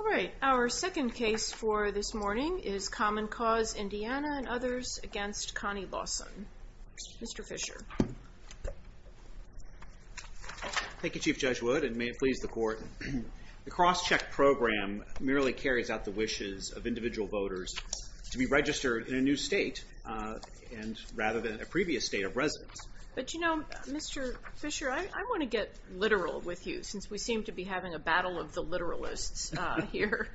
All right, our second case for this morning is Common Cause Indiana and others against Connie Lawson. Mr. Fischer. Thank you, Chief Judge Wood, and may it please the Court. The cross-check program merely carries out the wishes of individual voters to be registered in a new state and rather than a previous state of residence. But you know, Mr. Fischer, I want to get literal with you since we seem to be having a battle of the literalists here.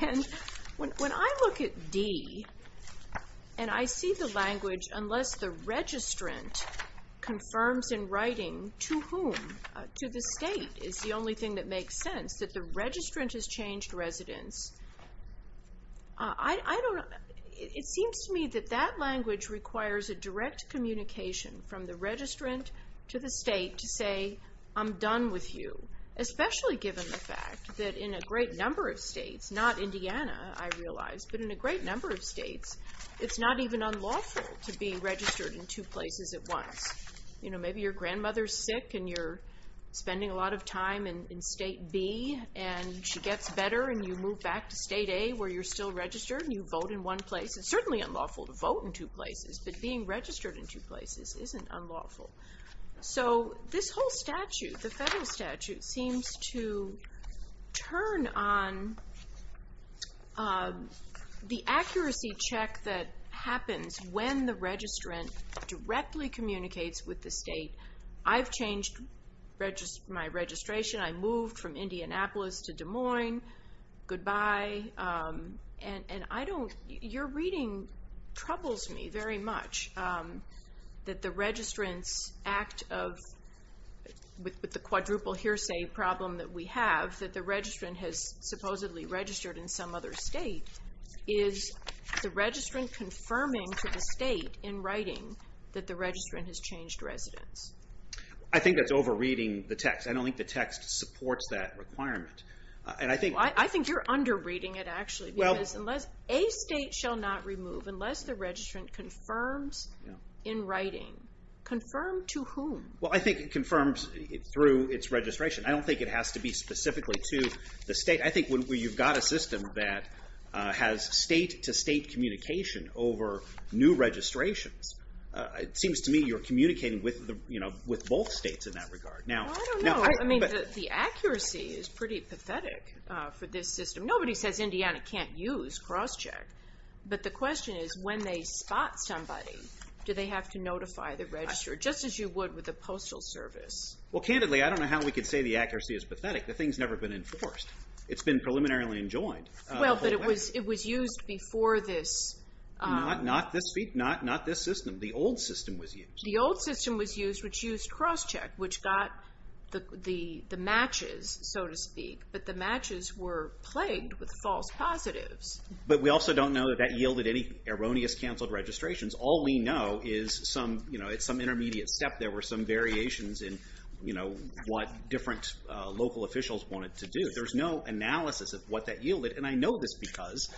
And when I look at D and I see the language, unless the registrant confirms in writing to whom, to the state, is the seems to me that that language requires a direct communication from the registrant to the state to say, I'm done with you. Especially given the fact that in a great number of states, not Indiana, I realize, but in a great number of states, it's not even unlawful to be registered in two places at once. You know, maybe your grandmother's sick and you're spending a lot of time in State B and she gets better and you move back to State A where you're still registered and you vote in one place. It's certainly unlawful to vote in two places, but being registered in two places isn't unlawful. So this whole statute, the federal statute, seems to turn on the accuracy check that happens when the registrant directly communicates with the state. I've changed my registration. I moved from Indianapolis to Des Moines. Goodbye. And I don't, your reading troubles me very much that the registrant's act of, with the quadruple hearsay problem that we have, that the registrant has supposedly registered in some other state, is the registrant confirming to the state in writing that the registrant has changed residence. I think that's over reading the text. I don't think the text supports that requirement. I think you're under reading it, actually. A state shall not remove unless the registrant confirms in writing. Confirm to whom? Well, I think it confirms through its registration. I don't think it has to be specifically to the state. I think when you've got a system that has state-to-state communication over new registrations, it seems to me you're communicating with both states in that regard. Now, I mean, the accuracy is pretty pathetic for this system. Nobody says Indiana can't use cross-check, but the question is when they spot somebody, do they have to notify the registrar, just as you would with a postal service? Well, candidly, I don't know how we could say the accuracy is pathetic. The thing's never been enforced. It's been preliminarily enjoined. Well, but it was it was used before this. Not this system. The old system was used. The old system was used, which used cross-check, which got the matches, so to speak, but the matches were plagued with false positives. But we also don't know that that yielded any erroneous canceled registrations. All we know is some, you know, it's some intermediate step. There were some variations in, you know, what different local officials wanted to do. There's no analysis of what that yielded, and I know this because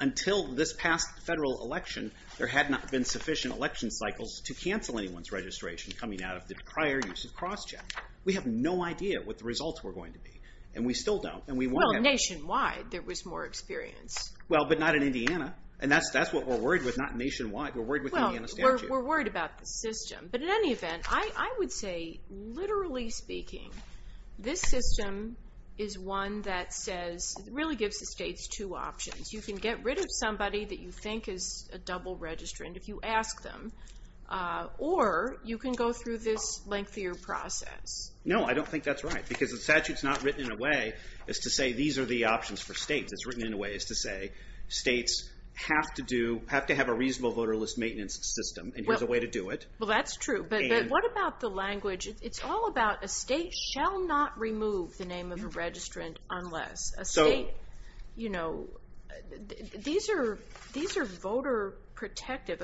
until this past federal election, there had not been sufficient election cycles to cancel anyone's registration coming out of the prior use of cross-check. We have no idea what the results were going to be, and we still don't. Well, nationwide there was more experience. Well, but not in Indiana, and that's that's what we're worried with, not nationwide. We're worried with the Indiana statute. We're worried about the system, but in any event, I would say, literally speaking, this system is one that says, really gives the states two options. You can get rid of somebody that you think is a double registrant if you ask them, or you can go through this lengthier process. No, I don't think that's right, because the statute's not written in a way as to say these are the options for states. It's written in a way as to say states have to do, have to have a reasonable voterless maintenance system, and here's a way to do it. Well, that's true, but what about the language? It's all about a state shall not remove the name of a registrant unless a state, you know, these are voter protective.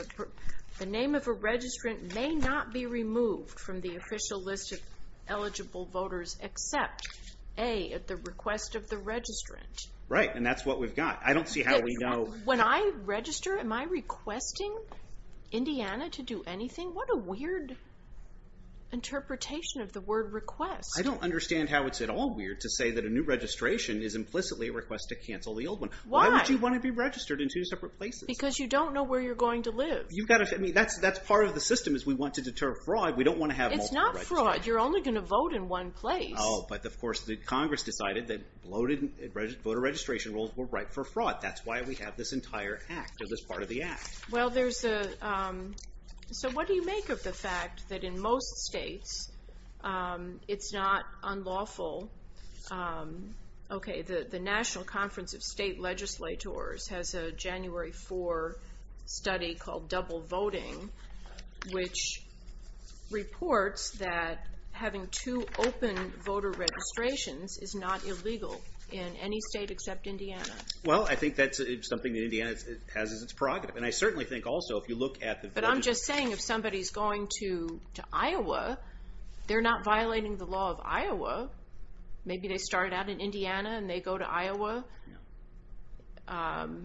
The name of a registrant may not be removed from the official list of eligible voters except, A, at the request of the registrant. Right, and that's what we've got. I don't see how we know. When I register, am I requesting Indiana to do anything? What a weird interpretation of the word request. I don't understand how it's at all weird to say that a new registration is implicitly a request to cancel the old one. Why would you want to be registered in two separate places? Because you don't know where you're going to live. You've got to, I mean, that's part of the system, is we want to deter fraud. We don't want to have multiple registrants. It's not fraud. You're only going to vote in one place. Oh, but of course the Congress decided that voter registration rules were ripe for fraud. That's why we have this entire Act, or this part of the Act. Well, there's a, so what do you make of the fact that in most states it's not unlawful? Okay, the National Conference of State Legislators has a January 4 study called Double Voting, which reports that having two open voter registrations is not illegal in any state except Indiana. Well, I think that's something that Indiana has as its prerogative, and I certainly think also if you look at the... But I'm just saying if somebody's going to Iowa, they're not violating the law of Iowa. Maybe they started out in Indiana and they go to Iowa,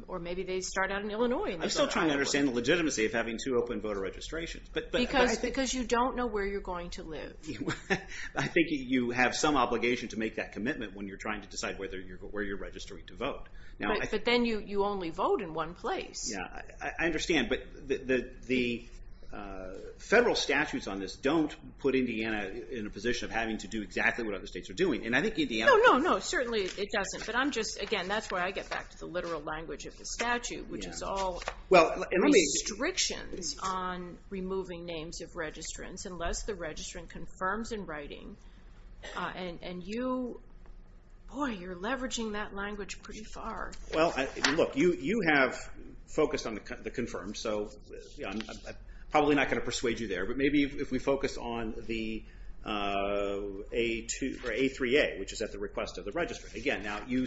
or maybe they start out in Illinois and they go to Iowa. I'm still trying to understand the legitimacy of having two open voter registrations. Because you don't know where you're going to live. I think you have some obligation to make that commitment when you're trying to decide where you're registering to vote. But then you only vote in one place. Yeah, I understand. But the federal statutes on this don't put Indiana in a position of having to do exactly what other states are doing. And I think Indiana... No, no, no, certainly it doesn't. But I'm just, again, that's why I get back to the literal language of the statute, which is all restrictions on removing names of registrants unless the registrant confirms in writing. And you, boy, you're leveraging that language pretty far. Well, look, you have focused on the confirmed, so I'm probably not going to persuade you there. But maybe if we focus on the A3A, which is at the request of the registrant. Again, now you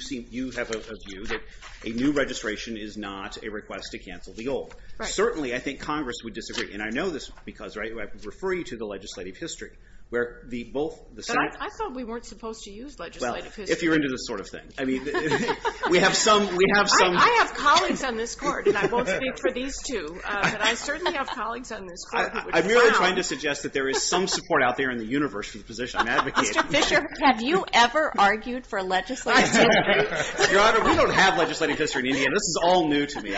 have a view that a new registration is not a request to cancel the old. Certainly, I think Congress would disagree. And I know this because I refer you to the legislative history, where the both... I thought we weren't supposed to use legislative history. Well, if you're into this sort of thing. I mean, we have some... I have colleagues on this court, and I won't speak for these two. But I certainly have colleagues on this court. I'm merely trying to suggest that there is some support out there in the universe for the position. I'm advocating. Mr. Fisher, have you ever argued for legislative history? Your Honor, we don't have legislative history in Indiana. This is all new to me.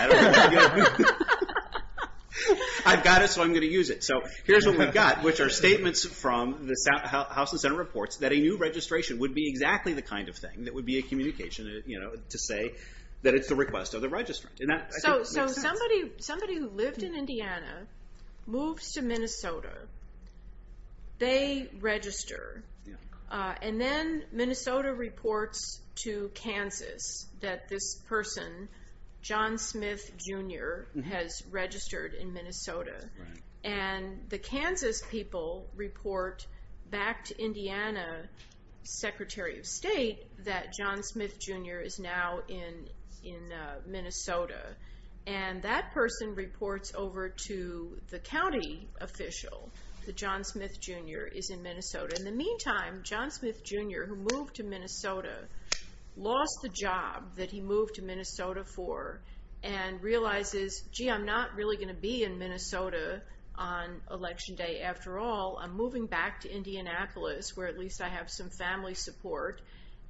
I've got it, so I'm going to use it. So here's what we've got, which are statements from the House and Senate reports that a new registration would be exactly the kind of thing that would be a communication to say that it's the request of the registrant. And that, I think, makes sense. So somebody who lived in Indiana moves to Minnesota. They register. And then Minnesota reports to Kansas that this person, John Smith, Jr., has registered in Minnesota. And the Kansas people report back to Secretary of State that John Smith, Jr. is now in Minnesota. And that person reports over to the county official that John Smith, Jr. is in Minnesota. In the meantime, John Smith, Jr., who moved to Minnesota, lost the job that he moved to Minnesota for and realizes, gee, I'm not really going to be in Minnesota on Election Day. After all, I'm moving back to Indianapolis, where at least I have some family support.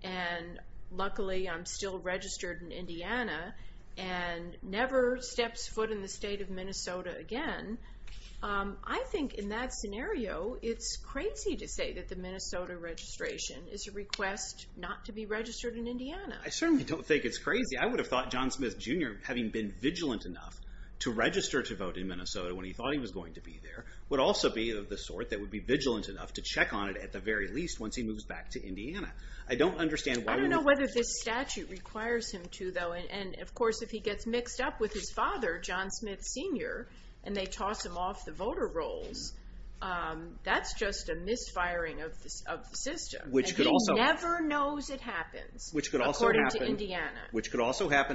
And luckily, I'm still registered in Indiana and never steps foot in the state of Minnesota again. I think in that scenario, it's crazy to say that the Minnesota registration is a request not to be registered in Indiana. I certainly don't think it's crazy. I would have thought John Smith, Jr., having been vigilant enough to register to vote in Minnesota when he thought he was going to be there, would also be of the sort that would be vigilant enough to check on it, at the very least, once he moves back to Indiana. I don't understand why we would... Which could also happen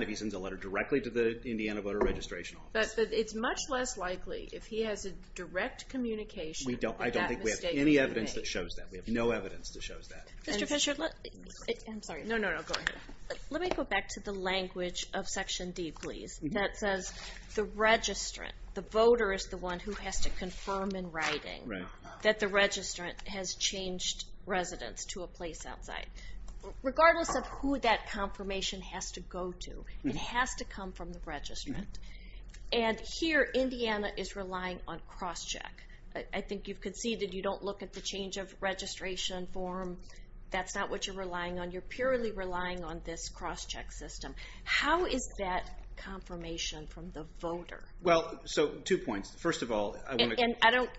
if he sends a letter directly to the Indiana voter registration office. But it's much less likely, if he has a direct communication... I don't think we have any evidence that shows that. We have no evidence that shows that. Mr. Fischer, let me go back to the language of Section D, please, that says the registrant, the voter is the one who has to confirm in writing that the registrant has changed residence to a place outside. Regardless of who that confirmation has to go to, it has to come from the registrant. And here, Indiana is relying on cross-check. I think you've conceded you don't look at the change of registration form. That's not what you're relying on. You're purely relying on this cross-check system. How is that confirmation from the voter? Well, so, two points. First of all, I want to... And I don't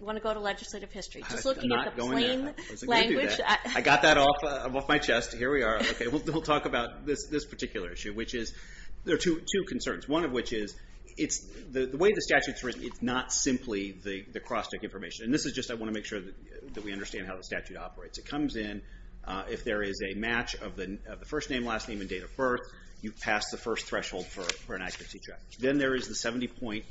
want to go to legislative history. Just looking at the plain language... I'm not going to do that. I got that off my chest. Here we are. We'll talk about this particular issue, which is, there are two concerns. One of which is, the way the statute's written, it's not simply the cross-check information. And this is just, I want to make sure that we understand how the statute operates. It comes in, if there is a match of the first name, last name, and date of birth, you pass the first threshold for an accuracy check. Then there is the 70-point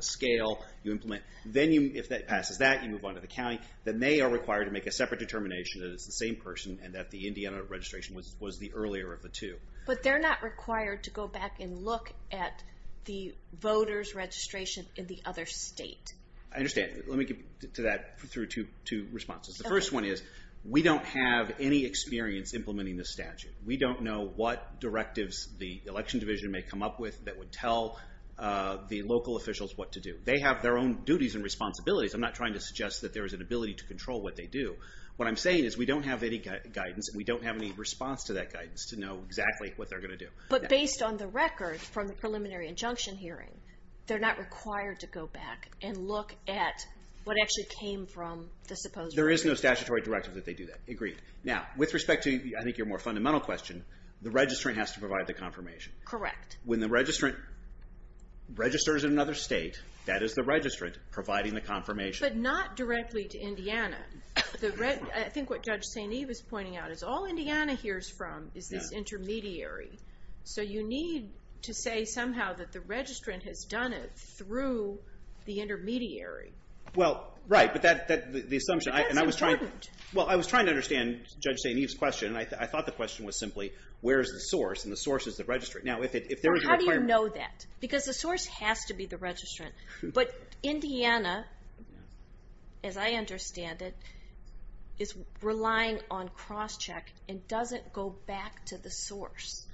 scale you implement. Then, if that passes that, you move on to the county. Then they are required to make a separate determination that it's the same person, and that the Indiana registration was the earlier of the two. But they're not required to go back and look at the voter's registration in the other state. I understand. Let me get to that through two responses. The first one is, we don't have any experience implementing this statute. We don't know what directives the election division may come up with that would tell the local officials what to do. They have their own duties and responsibilities. I'm not trying to suggest that there is an ability to control what they do. What I'm saying is, we don't have any guidance, and we don't have any response to that guidance to know exactly what they're going to do. But based on the record from the preliminary injunction hearing, they're not required to go back and look at what actually came from the supposed registration. There is no statutory directive that they do that. Agreed. Now, with respect to, I think, your more fundamental question, the registrant has to provide the confirmation. Correct. When the registrant registers in another state, that is the registrant providing the confirmation. But not directly to Indiana. I think what Judge St. Eve is pointing out is, all Indiana hears from is this intermediary. So you need to say somehow that the registrant has done it through the intermediary. Well, right. But that's the assumption. But that's important. Well, I was trying to understand Judge St. Eve's question, and I thought the question was simply, where is the source? And the source is the registrant. How do you know that? Because the source has to be the registrant. But Indiana, as I understand it, is relying on cross-check and doesn't go back to the source.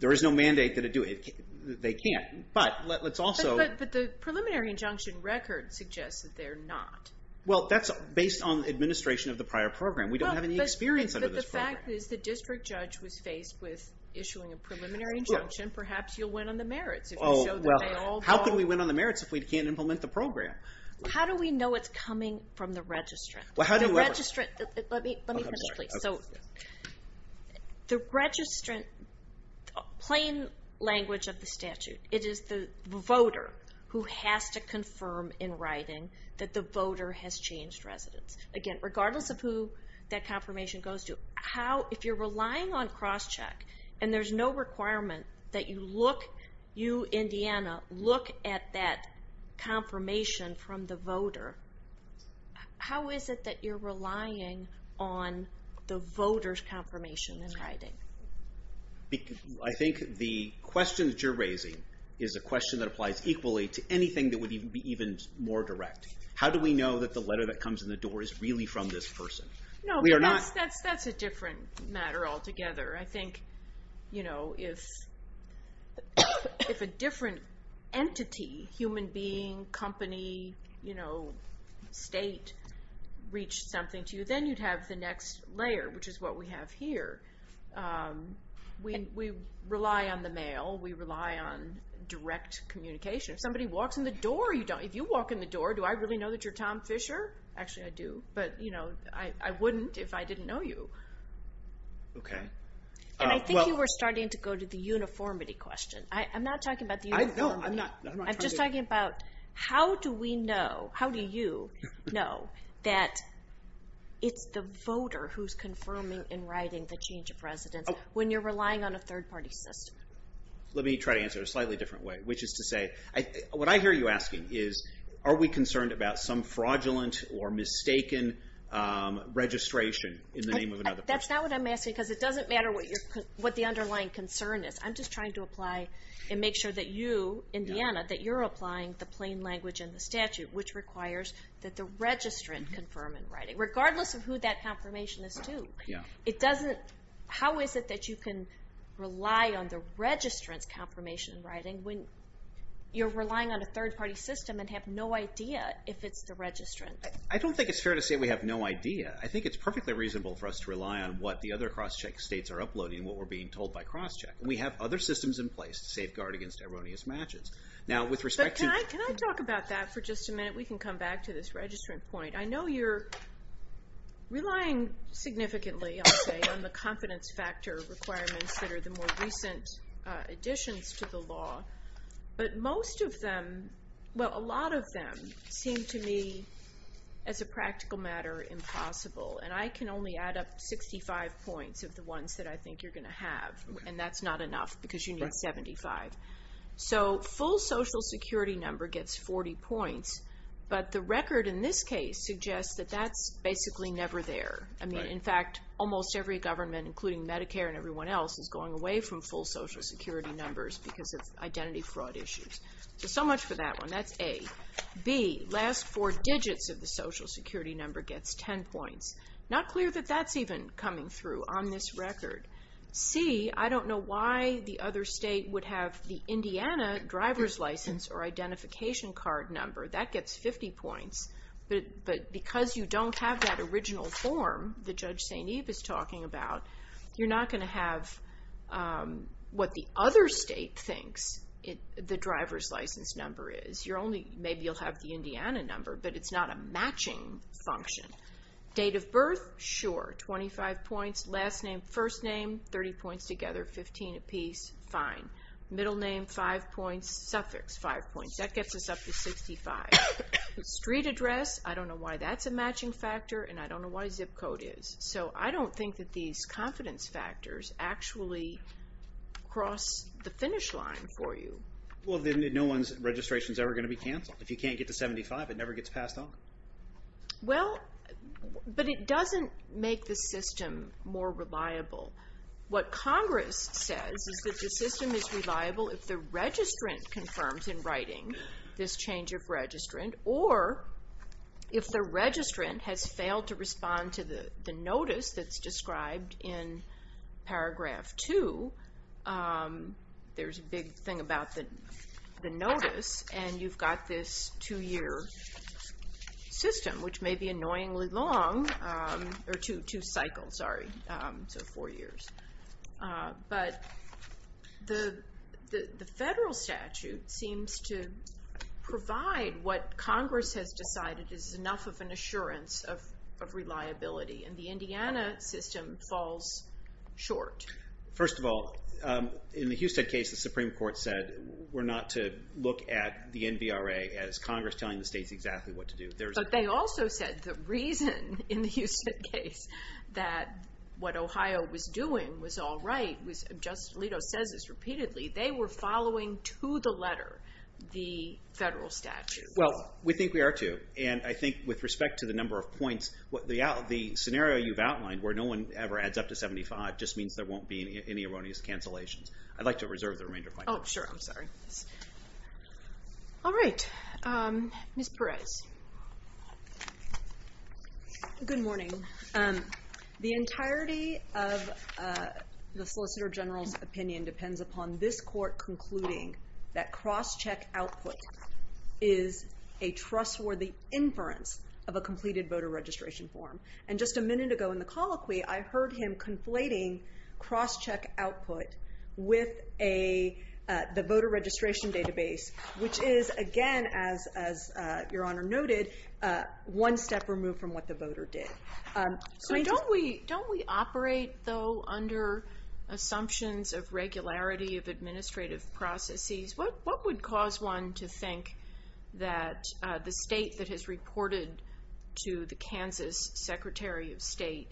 There is no mandate that it do it. They can't. But let's also... But the preliminary injunction record suggests that they're not. Well, that's based on administration of the prior program. We don't have any experience under this program. The fact is, the district judge was faced with issuing a preliminary injunction. Perhaps you'll win on the merits if you show that they all... How can we win on the merits if we can't implement the program? How do we know it's coming from the registrant? Well, how do you ever... Let me finish, please. Oh, I'm sorry. The plain language of the statute, it is the voter who has to confirm in writing that the voter has changed residence. Again, regardless of who that confirmation goes to, if you're relying on cross-check and there's no requirement that you, Indiana, look at that confirmation from the voter, how is it that you're relying on the voter's confirmation in writing? I think the question that you're raising is a question that applies equally to anything that would be even more direct. How do we know that the letter that comes in the door is really from this person? No, but that's a different matter altogether. I think if a different entity, human being, company, state, reached something to you, then you'd have the next layer, which is what we have here. We rely on the mail. We rely on direct communication. If somebody walks in the door, you don't. If you walk in the door, do I really know that you're Tom Fisher? Actually, I do, but I wouldn't if I didn't know you. I think you were starting to go to the uniformity question. I'm not talking about the uniformity. I'm just talking about how do we know, how do you know that it's the voter who's confirming and writing the change of residence when you're relying on a third-party system? Let me try to answer it a slightly different way, which is to say, what I hear you asking is, are we concerned about some fraudulent or mistaken registration in the name of another person? That's not what I'm asking because it doesn't matter what the underlying concern is. I'm just trying to apply and make sure that you, Indiana, that you're applying the plain language in the statute, which requires that the registrant confirm in writing, regardless of who that confirmation is to. How is it that you can rely on the registrant's confirmation in writing when you're relying on a third-party system and have no idea if it's the registrant? I don't think it's fair to say we have no idea. I think it's perfectly reasonable for us to rely on what the other cross-check states are uploading and what we're being told by cross-check. We have other systems in place to safeguard against erroneous matches. Can I talk about that for just a minute? We can come back to this registrant point. I know you're relying significantly, I'll say, on the confidence factor requirements that are the more recent additions to the law. But most of them, well, a lot of them seem to me, as a practical matter, impossible. And I can only add up 65 points of the ones that I think you're going to have, and that's not enough because you need 75. So full Social Security number gets 40 points, but the record in this case suggests that that's basically never there. I mean, in fact, almost every government, including Medicare and everyone else, is going away from full Social Security numbers because of identity fraud issues. So, so much for that one. That's A. B, last four digits of the Social Security number gets 10 points. Not clear that that's even coming through on this record. C, I don't know why the other state would have the Indiana driver's license or identification card number. That gets 50 points. But because you don't have that original form that Judge St. Eve is talking about, you're not going to have what the other state thinks the driver's license number is. You're only, maybe you'll have the Indiana number, but it's not a matching function. Date of birth, sure, 25 points. Last name, first name, 30 points together, 15 apiece, fine. Middle name, 5 points. Suffix, 5 points. That gets us up to 65. Street address, I don't know why that's a matching factor, and I don't know why zip code is. So I don't think that these confidence factors actually cross the finish line for you. Well, then no one's registration is ever going to be canceled. If you can't get to 75, it never gets passed on. Well, but it doesn't make the system more reliable. What Congress says is that the system is reliable if the registrant confirms in writing this change of registrant, or if the registrant has failed to respond to the notice that's described in paragraph 2. There's a big thing about the notice, and you've got this two-year system, which may be annoyingly long, or two cycles, sorry, so four years. But the federal statute seems to provide what Congress has decided is enough of an assurance of reliability, and the Indiana system falls short. First of all, in the Houston case, the Supreme Court said, we're not to look at the NBRA as Congress telling the states exactly what to do. But they also said the reason in the Houston case that what Ohio was doing was all right, Justice Alito says this repeatedly, they were following to the letter the federal statute. Well, we think we are too, and I think with respect to the number of points, the scenario you've outlined where no one ever adds up to 75 just means there won't be any erroneous cancellations. I'd like to reserve the remainder of my time. Oh, sure, I'm sorry. All right, Ms. Perez. Good morning. The entirety of the Solicitor General's opinion depends upon this court concluding that cross-check output is a trustworthy inference of a completed voter registration form. And just a minute ago in the colloquy, I heard him conflating cross-check output with the voter registration database, which is, again, as Your Honor noted, one step removed from what the voter did. So don't we operate, though, under assumptions of regularity of administrative processes? What would cause one to think that the state that has reported to the Kansas Secretary of State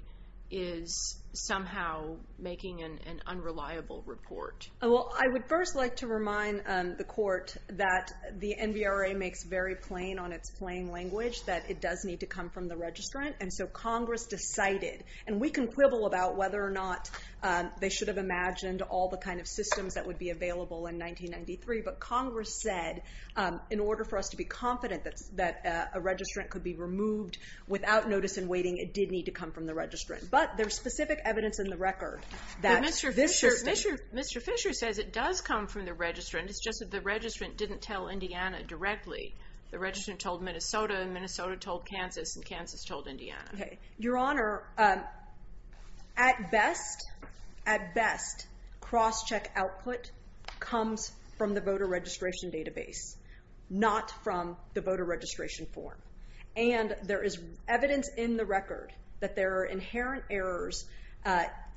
is somehow making an unreliable report? Well, I would first like to remind the court that the NVRA makes very plain on its plain language that it does need to come from the registrant. And so Congress decided, and we can quibble about whether or not they should have imagined all the kind of systems that would be available in 1993, but Congress said in order for us to be confident that a registrant could be removed without notice and waiting, it did need to come from the registrant. But there's specific evidence in the record that this system- But Mr. Fisher says it does come from the registrant. It's just that the registrant didn't tell Indiana directly. The registrant told Minnesota, and Minnesota told Kansas, and Kansas told Indiana. Your Honor, at best, at best, cross-check output comes from the voter registration database, not from the voter registration form. And there is evidence in the record that there are inherent errors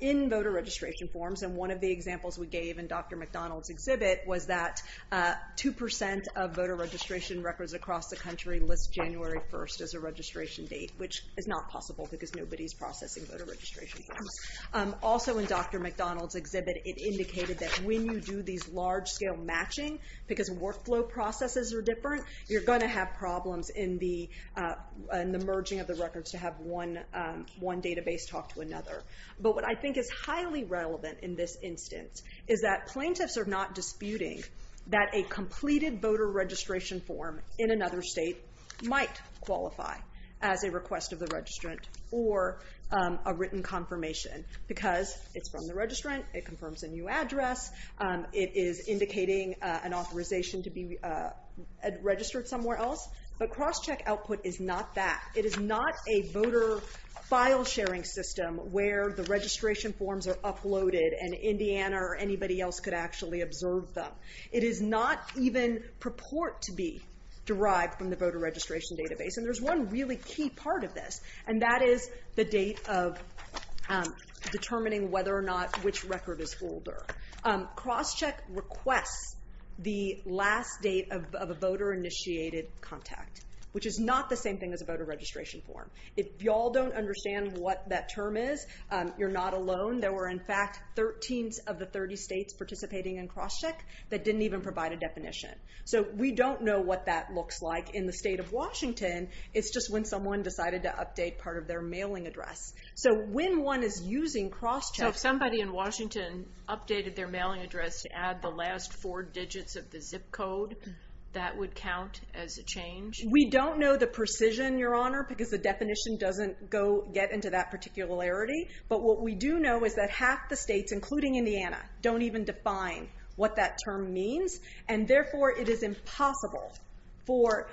in voter registration forms. And one of the examples we gave in Dr. McDonald's exhibit was that 2% of voter registration records across the country list January 1st as a registration date, which is not possible because nobody's processing voter registration forms. Also in Dr. McDonald's exhibit, it indicated that when you do these large-scale matching, because workflow processes are different, you're going to have problems in the merging of the records to have one database talk to another. But what I think is highly relevant in this instance is that plaintiffs are not disputing that a completed voter registration form in another state might qualify as a request of the registrant or a written confirmation because it's from the registrant. It confirms a new address. It is indicating an authorization to be registered somewhere else. But cross-check output is not that. It is not a voter file-sharing system where the registration forms are uploaded and Indiana or anybody else could actually observe them. It is not even purport to be derived from the voter registration database. And there's one really key part of this, and that is the date of determining whether or not which record is older. Cross-check requests the last date of a voter-initiated contact, which is not the same thing as a voter registration form. If y'all don't understand what that term is, you're not alone. There were, in fact, 13 of the 30 states participating in cross-check that didn't even provide a definition. So we don't know what that looks like in the state of Washington. It's just when someone decided to update part of their mailing address. So when one is using cross-check... So if somebody in Washington updated their mailing address to add the last four digits of the zip code, that would count as a change? We don't know the precision, Your Honor, because the definition doesn't get into that particularity. But what we do know is that half the states, including Indiana, don't even define what that term means. And therefore, it is impossible for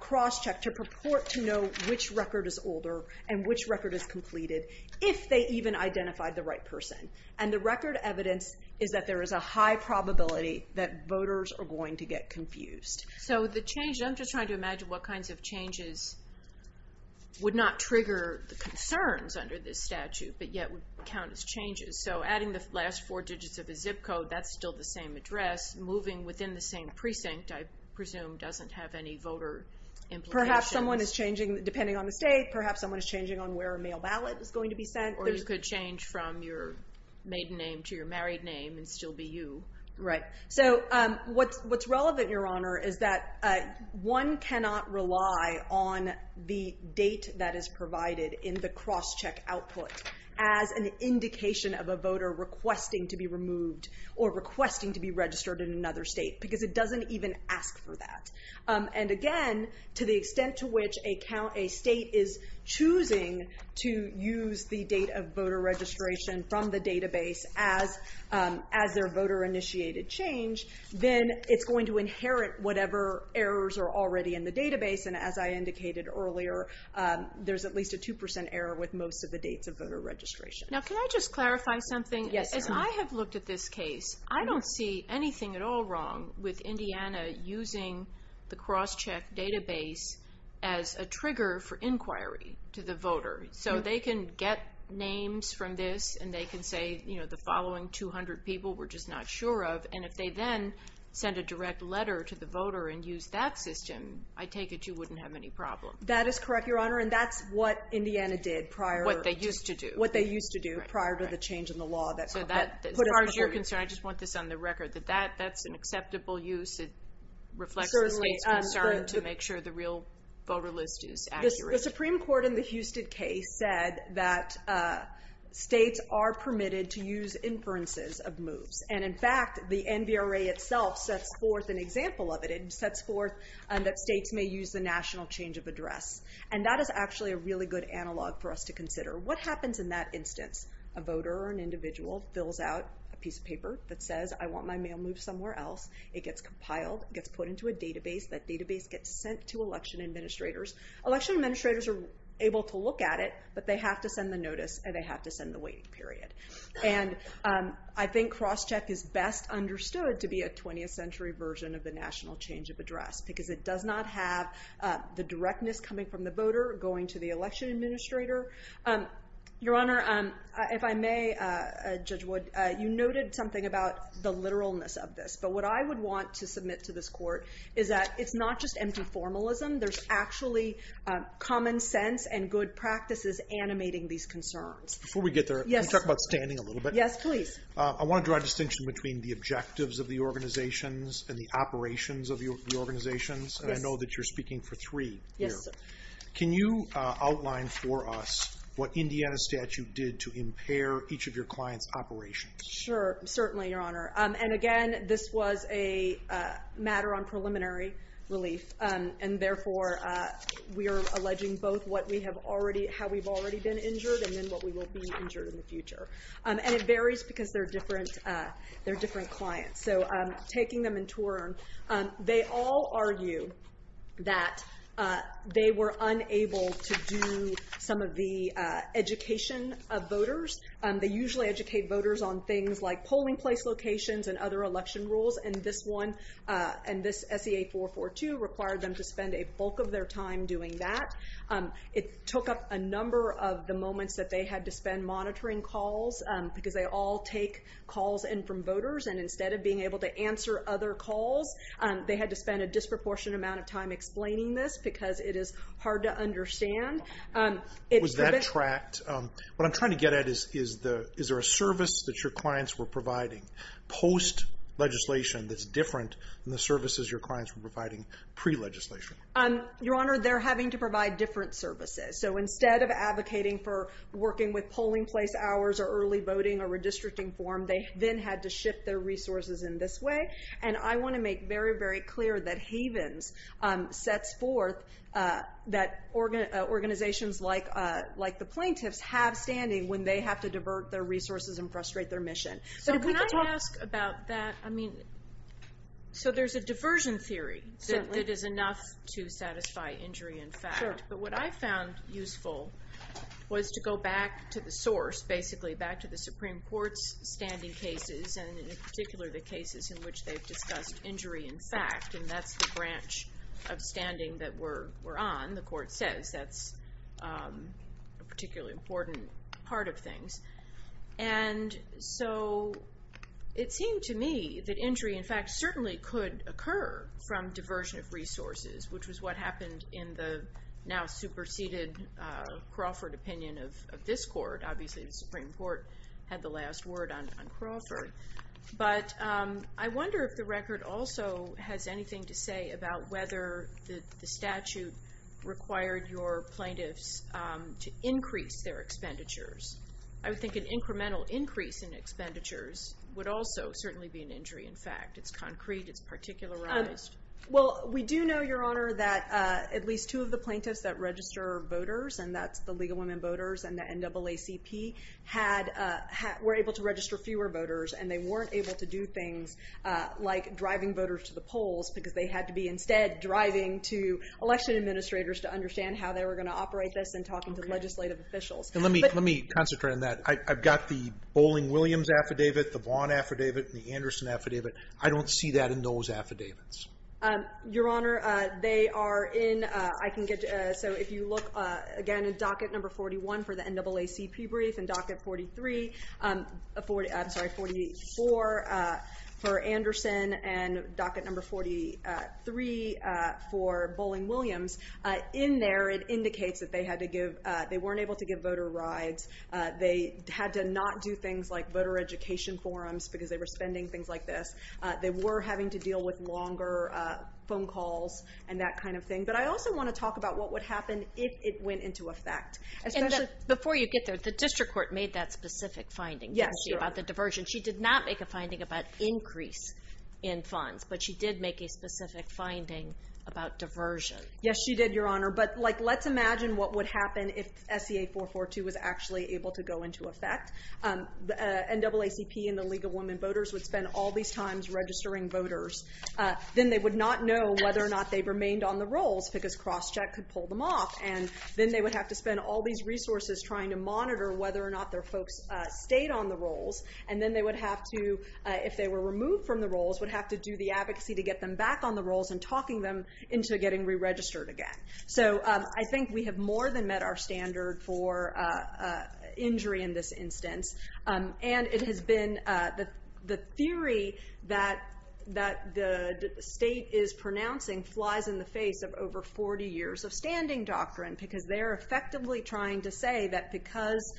cross-check to purport to know which record is older and which record is completed, if they even identified the right person. And the record evidence is that there is a high probability that voters are going to get confused. So the change... I'm just trying to imagine what kinds of changes would not trigger the concerns under this statute, but yet would count as changes. So adding the last four digits of the zip code, that's still the same address. Moving within the same precinct, I presume, doesn't have any voter implications. Perhaps someone is changing, depending on the state, perhaps someone is changing on where a mail ballot is going to be sent. Or you could change from your maiden name to your married name and still be you. Right. So what's relevant, Your Honor, is that one cannot rely on the date that is provided in the cross-check output as an indication of a voter requesting to be removed or requesting to be registered in another state, because it doesn't even ask for that. And again, to the extent to which a state is choosing to use the date of voter registration from the database as their voter-initiated change, then it's going to inherit whatever errors are already in the database. And as I indicated earlier, there's at least a 2% error with most of the dates of voter registration. Now, can I just clarify something? Yes, Your Honor. As I have looked at this case, I don't see anything at all wrong with Indiana using the cross-check database as a trigger for inquiry to the voter. So they can get names from this and they can say, you know, the following 200 people we're just not sure of. And if they then send a direct letter to the voter and use that system, I take it you wouldn't have any problem. That is correct, Your Honor, and that's what Indiana did prior. What they used to do. What they used to do prior to the change in the law that put in place. As far as you're concerned, I just want this on the record, that that's an acceptable use. It reflects the state's concern to make sure the real voter list is accurate. The Supreme Court in the Houston case said that states are permitted to use inferences of moves. And in fact, the NVRA itself sets forth an example of it. It sets forth that states may use the national change of address. And that is actually a really good analog for us to consider. What happens in that instance? A voter or an individual fills out a piece of paper that says I want my mail moved somewhere else. It gets compiled. It gets put into a database. That database gets sent to election administrators. Election administrators are able to look at it, but they have to send the notice and they have to send the waiting period. And I think cross-check is best understood to be a 20th century version of the national change of address because it does not have the directness coming from the voter going to the election administrator. Your Honor, if I may, Judge Wood, you noted something about the literalness of this. But what I would want to submit to this court is that it's not just empty formalism. There's actually common sense and good practices animating these concerns. Before we get there, let's talk about standing a little bit. Yes, please. I want to draw a distinction between the objectives of the organizations and the operations of the organizations, and I know that you're speaking for three here. Yes, sir. Can you outline for us what Indiana statute did to impair each of your clients' operations? Sure. Certainly, Your Honor. And, again, this was a matter on preliminary relief, and therefore we are alleging both how we've already been injured and then what we will be injured in the future. And it varies because they're different clients. So taking them in turn, they all argue that they were unable to do some of the education of voters. They usually educate voters on things like polling place locations and other election rules, and this SEA 442 required them to spend a bulk of their time doing that. It took up a number of the moments that they had to spend monitoring calls because they all take calls in from voters, and instead of being able to answer other calls, they had to spend a disproportionate amount of time explaining this because it is hard to understand. Was that tracked? What I'm trying to get at is, is there a service that your clients were providing post-legislation that's different than the services your clients were providing pre-legislation? Your Honor, they're having to provide different services. So instead of advocating for working with polling place hours or early voting or redistricting form, they then had to shift their resources in this way. And I want to make very, very clear that Havens sets forth that organizations like the plaintiffs have standing when they have to divert their resources and frustrate their mission. So can I ask about that? I mean, so there's a diversion theory that is enough to satisfy injury in fact, but what I found useful was to go back to the source, basically back to the Supreme Court's standing cases, and in particular the cases in which they've discussed injury in fact, and that's the branch of standing that we're on, the Court says. That's a particularly important part of things. And so it seemed to me that injury in fact certainly could occur from diversion of resources, which was what happened in the now superseded Crawford opinion of this Court. Obviously the Supreme Court had the last word on Crawford. But I wonder if the record also has anything to say about whether the statute required your plaintiffs to increase their expenditures. I would think an incremental increase in expenditures would also certainly be an injury in fact. It's concrete. It's particularized. Well, we do know, Your Honor, that at least two of the plaintiffs that register voters, and that's the League of Women Voters and the NAACP, were able to register fewer voters, and they weren't able to do things like driving voters to the polls because they had to be instead driving to election administrators to understand how they were going to operate this and talking to legislative officials. And let me concentrate on that. I've got the Bowling-Williams affidavit, the Vaughan affidavit, and the Anderson affidavit. I don't see that in those affidavits. Your Honor, they are in. I can get you. So if you look again at docket number 41 for the NAACP brief and docket 43, I'm sorry, 44 for Anderson and docket number 43 for Bowling-Williams, in there it indicates that they weren't able to give voter rides. They had to not do things like voter education forums because they were spending things like this. They were having to deal with longer phone calls and that kind of thing. But I also want to talk about what would happen if it went into effect. And before you get there, the district court made that specific finding, didn't she, about the diversion. She did not make a finding about increase in funds, but she did make a specific finding about diversion. Yes, she did, Your Honor. But, like, let's imagine what would happen if SEA 442 was actually able to go into effect. The NAACP and the League of Women Voters would spend all these times registering voters. Then they would not know whether or not they remained on the rolls because cross-check could pull them off. And then they would have to spend all these resources trying to monitor whether or not their folks stayed on the rolls. And then they would have to, if they were removed from the rolls, would have to do the advocacy to get them back on the rolls and talking them into getting re-registered again. So I think we have more than met our standard for injury in this instance. And it has been the theory that the state is pronouncing flies in the face of over 40 years of standing doctrine because they're effectively trying to say that because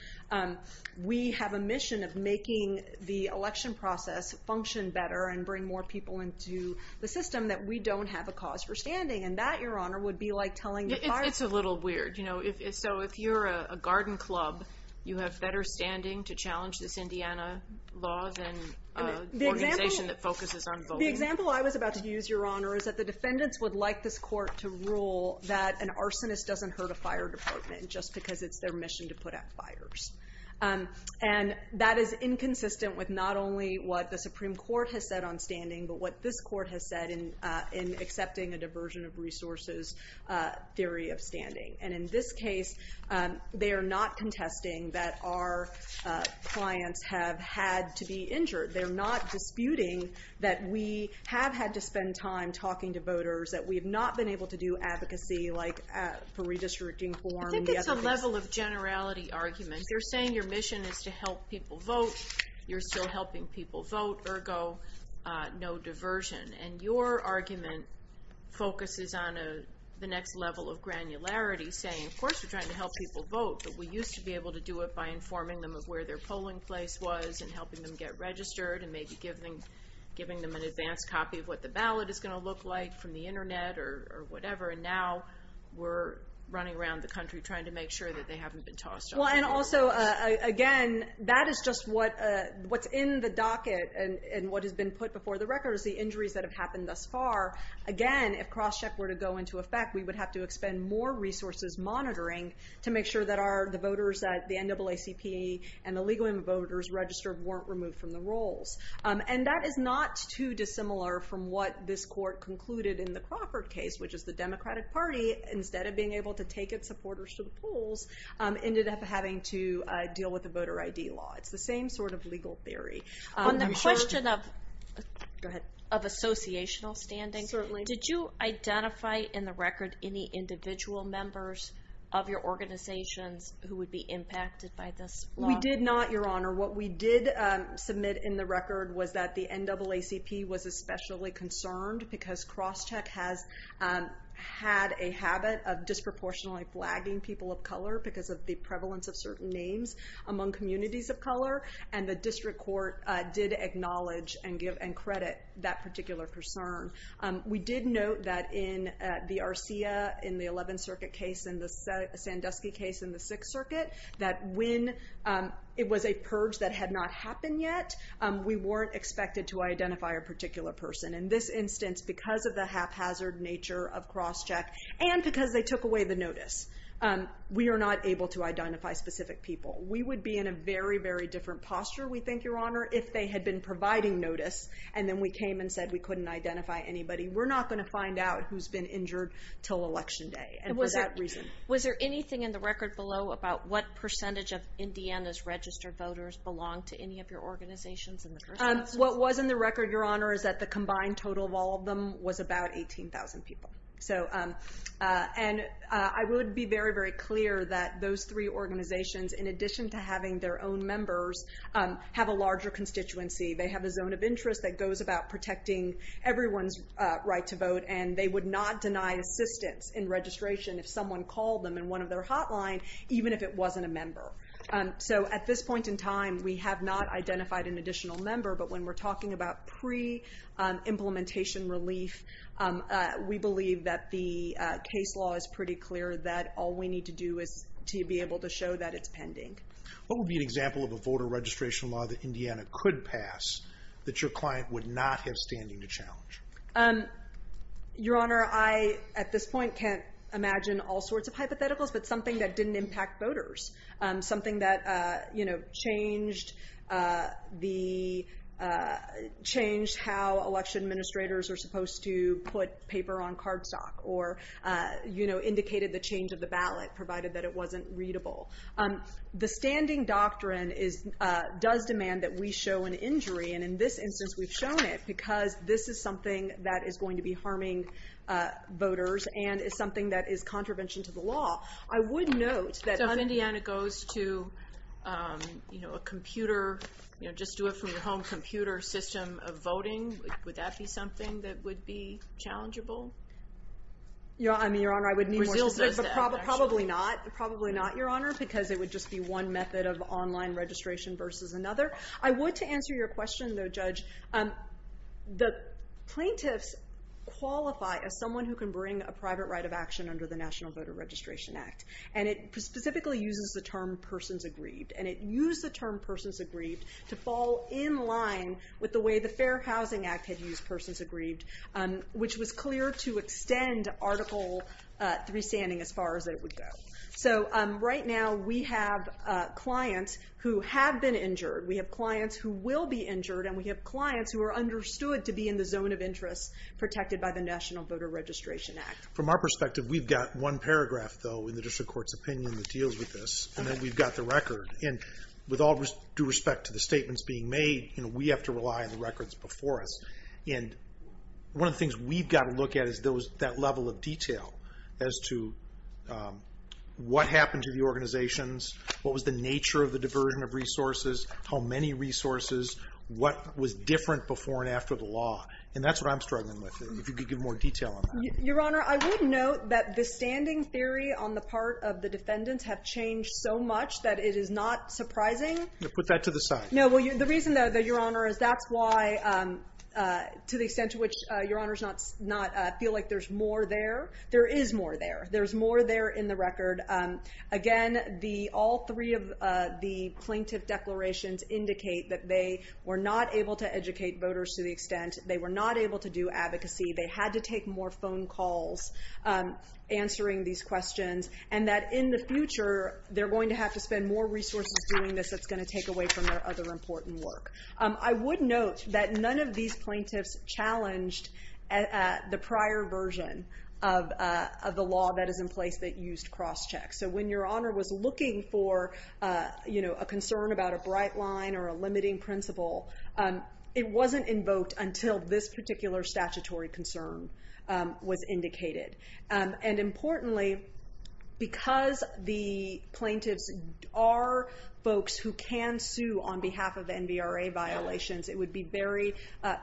we have a mission of making the election process function better and bring more people into the system that we don't have a cause for standing. And that, Your Honor, would be like telling the fire department. It's a little weird. So if you're a garden club, you have better standing to challenge this Indiana law than an organization that focuses on voting. The example I was about to use, Your Honor, is that the defendants would like this court to rule that an arsonist doesn't hurt a fire department just because it's their mission to put out fires. And that is inconsistent with not only what the Supreme Court has said on standing, but what this court has said in accepting a diversion of resources theory of standing. And in this case, they are not contesting that our clients have had to be injured. They're not disputing that we have had to spend time talking to voters, that we have not been able to do advocacy like for redistricting form. I think it's a level of generality argument. You're saying your mission is to help people vote. You're still helping people vote. Ergo, no diversion. And your argument focuses on the next level of granularity, saying, of course, we're trying to help people vote, but we used to be able to do it by informing them of where their polling place was and helping them get registered and maybe giving them an advanced copy of what the ballot is going to look like from the Internet or whatever. And now we're running around the country trying to make sure that they haven't been tossed off the ballot. Well, and also, again, that is just what's in the docket, and what has been put before the record is the injuries that have happened thus far. Again, if crosscheck were to go into effect, we would have to expend more resources monitoring to make sure that the voters at the NAACP and the League of Women Voters Registered weren't removed from the rolls. And that is not too dissimilar from what this court concluded in the Crawford case, which is the Democratic Party, instead of being able to take its supporters to the polls, ended up having to deal with the voter ID law. It's the same sort of legal theory. On the question of associational standing, did you identify in the record any individual members of your organizations who would be impacted by this law? We did not, Your Honor. What we did submit in the record was that the NAACP was especially concerned because crosscheck has had a habit of disproportionately flagging people of color because of the prevalence of certain names among communities of color, and the district court did acknowledge and credit that particular concern. We did note that in the Arcia, in the 11th Circuit case, and the Sandusky case in the 6th Circuit, that when it was a purge that had not happened yet, we weren't expected to identify a particular person. In this instance, because of the haphazard nature of crosscheck and because they took away the notice, we are not able to identify specific people. We would be in a very, very different posture, we think, Your Honor, if they had been providing notice and then we came and said we couldn't identify anybody. We're not going to find out who's been injured until Election Day. Was there anything in the record below about what percentage of Indiana's registered voters belong to any of your organizations? What was in the record, Your Honor, is that the combined total of all of them was about 18,000 people. And I would be very, very clear that those three organizations, in addition to having their own members, have a larger constituency. They have a zone of interest that goes about protecting everyone's right to vote, and they would not deny assistance in registration if someone called them in one of their hotline, even if it wasn't a member. So at this point in time, we have not identified an additional member, but when we're talking about pre-implementation relief, we believe that the case law is pretty clear that all we need to do is to be able to show that it's pending. What would be an example of a voter registration law that Indiana could pass that your client would not have standing to challenge? Your Honor, I, at this point, can't imagine all sorts of hypotheticals, but something that didn't impact voters. Something that changed how election administrators are supposed to put paper on cardstock or indicated the change of the ballot, provided that it wasn't readable. The standing doctrine does demand that we show an injury, and in this instance we've shown it because this is something that is going to be harming voters and is something that is contravention to the law. I would note that if Indiana goes to a computer, just do it from your home computer system of voting, would that be something that would be challengeable? Your Honor, I wouldn't be more specific, but probably not, Your Honor, because it would just be one method of online registration versus another. I would, to answer your question, though, Judge, the plaintiffs qualify as someone who can bring a private right of action under the National Voter Registration Act, and it specifically uses the term persons aggrieved, and it used the term persons aggrieved to fall in line with the way the Fair Housing Act had used persons aggrieved, which was clear to extend Article 3 standing as far as it would go. So right now we have clients who have been injured. We have clients who will be injured, and we have clients who are understood to be in the zone of interest protected by the National Voter Registration Act. From our perspective, we've got one paragraph, though, in the district court's opinion that deals with this, and then we've got the record, and with all due respect to the statements being made, we have to rely on the records before us, and one of the things we've got to look at is that level of detail as to what happened to the organizations, what was the nature of the diversion of resources, how many resources, what was different before and after the law, and that's what I'm struggling with, and if you could give more detail on that. Your Honor, I would note that the standing theory on the part of the defendants have changed so much that it is not surprising. Put that to the side. No, well, the reason, though, Your Honor, is that's why, to the extent to which Your Honor does not feel like there's more there, there is more there. There's more there in the record. Again, all three of the plaintiff declarations indicate that they were not able to educate voters to the extent, they were not able to do advocacy, they had to take more phone calls answering these questions, and that in the future they're going to have to spend more resources doing this that's going to take away from their other important work. I would note that none of these plaintiffs challenged the prior version of the law that is in place that used cross-check, so when Your Honor was looking for a concern about a bright line or a limiting principle, it wasn't invoked until this particular statutory concern was indicated, and importantly, because the plaintiffs are folks who can sue on behalf of NVRA violations, it would be very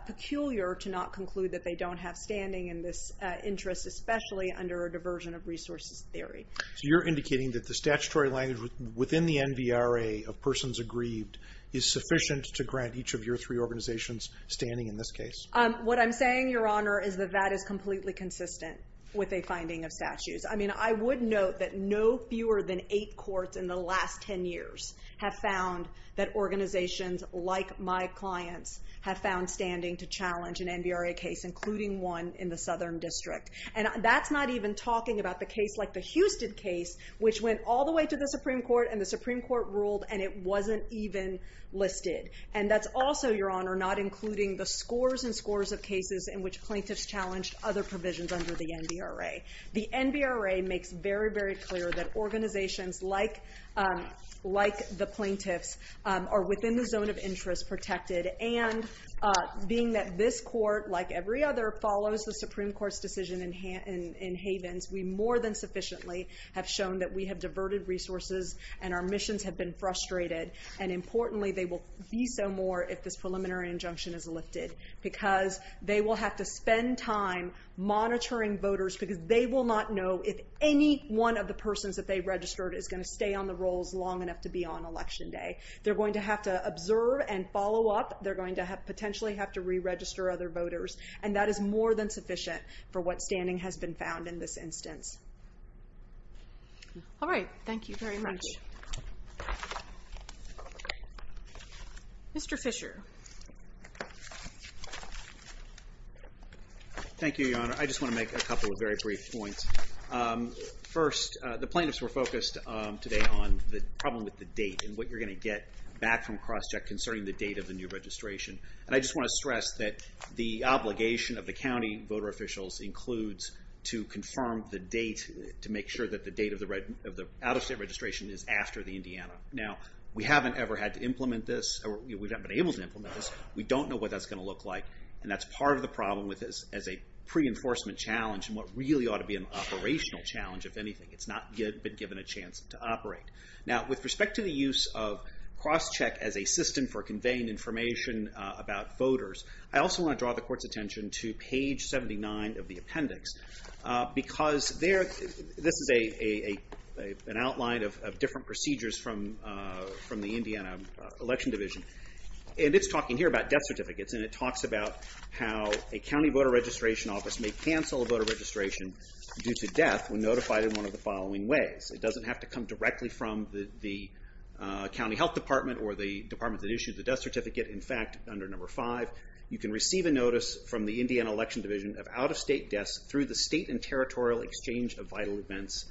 peculiar to not conclude that they don't have standing in this interest, especially under a diversion of resources theory. So you're indicating that the statutory language within the NVRA of persons aggrieved is sufficient to grant each of your three organizations standing in this case? What I'm saying, Your Honor, is that that is completely consistent with a finding of statutes. I mean, I would note that no fewer than eight courts in the last 10 years have found that organizations like my clients have found standing to challenge an NVRA case, including one in the Southern District, and that's not even talking about the case like the Houston case, which went all the way to the Supreme Court, and the Supreme Court ruled, and it wasn't even listed, and that's also, Your Honor, not including the scores and scores of cases in which plaintiffs challenged other provisions under the NVRA. The NVRA makes very, very clear that organizations like the plaintiffs are within the zone of interest protected, and being that this court, like every other, follows the Supreme Court's decision in Havens, we more than sufficiently have shown that we have diverted resources and our missions have been frustrated, and importantly, they will be so more if this preliminary injunction is lifted, because they will have to spend time monitoring voters because they will not know if any one of the persons that they registered is going to stay on the rolls long enough to be on Election Day. They're going to have to observe and follow up. They're going to potentially have to re-register other voters, and that is more than sufficient for what standing has been found in this instance. All right. Thank you very much. Mr. Fisher. Thank you, Your Honor. I just want to make a couple of very brief points. First, the plaintiffs were focused today on the problem with the date and what you're going to get back from cross-check concerning the date of the new registration, and I just want to stress that the obligation of the county voter officials includes to confirm the date to make sure that the date of the out-of-state registration is after the Indiana. Now, we haven't ever had to implement this, or we haven't been able to implement this. We don't know what that's going to look like, and that's part of the problem as a pre-enforcement challenge and what really ought to be an operational challenge, if anything. It's not yet been given a chance to operate. Now, with respect to the use of cross-check as a system for conveying information about voters, I also want to draw the court's attention to page 79 of the appendix, because this is an outline of different procedures from the Indiana Election Division, and it's talking here about death certificates, and it talks about how a county voter registration office may cancel a voter registration due to death when notified in one of the following ways. It doesn't have to come directly from the county health department or the department that issued the death certificate. In fact, under number five, you can receive a notice from the Indiana Election Division of out-of-state deaths through the state and territorial exchange of vital events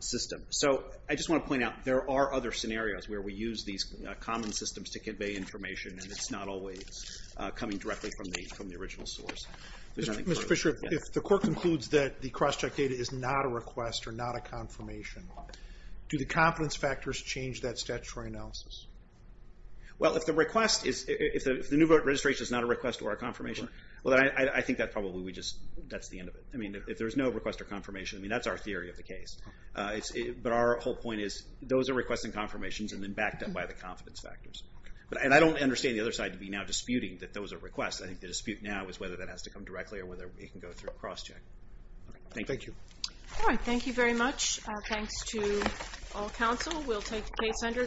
system. So I just want to point out, there are other scenarios where we use these common systems to convey information, and it's not always coming directly from the original source. There's nothing further. Mr. Fisher, if the court concludes that the cross-check data is not a request or not a confirmation, do the confidence factors change that statutory analysis? Well, if the request is, if the new voter registration is not a request or a confirmation, well, I think that probably we just, that's the end of it. I mean, if there's no request or confirmation, I mean, that's our theory of the case. But our whole point is, those are requests and confirmations, and then backed up by the confidence factors. And I don't understand the other side to be now disputing that those are requests. I think the dispute now is whether that has to come directly or whether it can go through a cross-check. Thank you. All right, thank you very much. Thanks to all counsel. We'll take case under.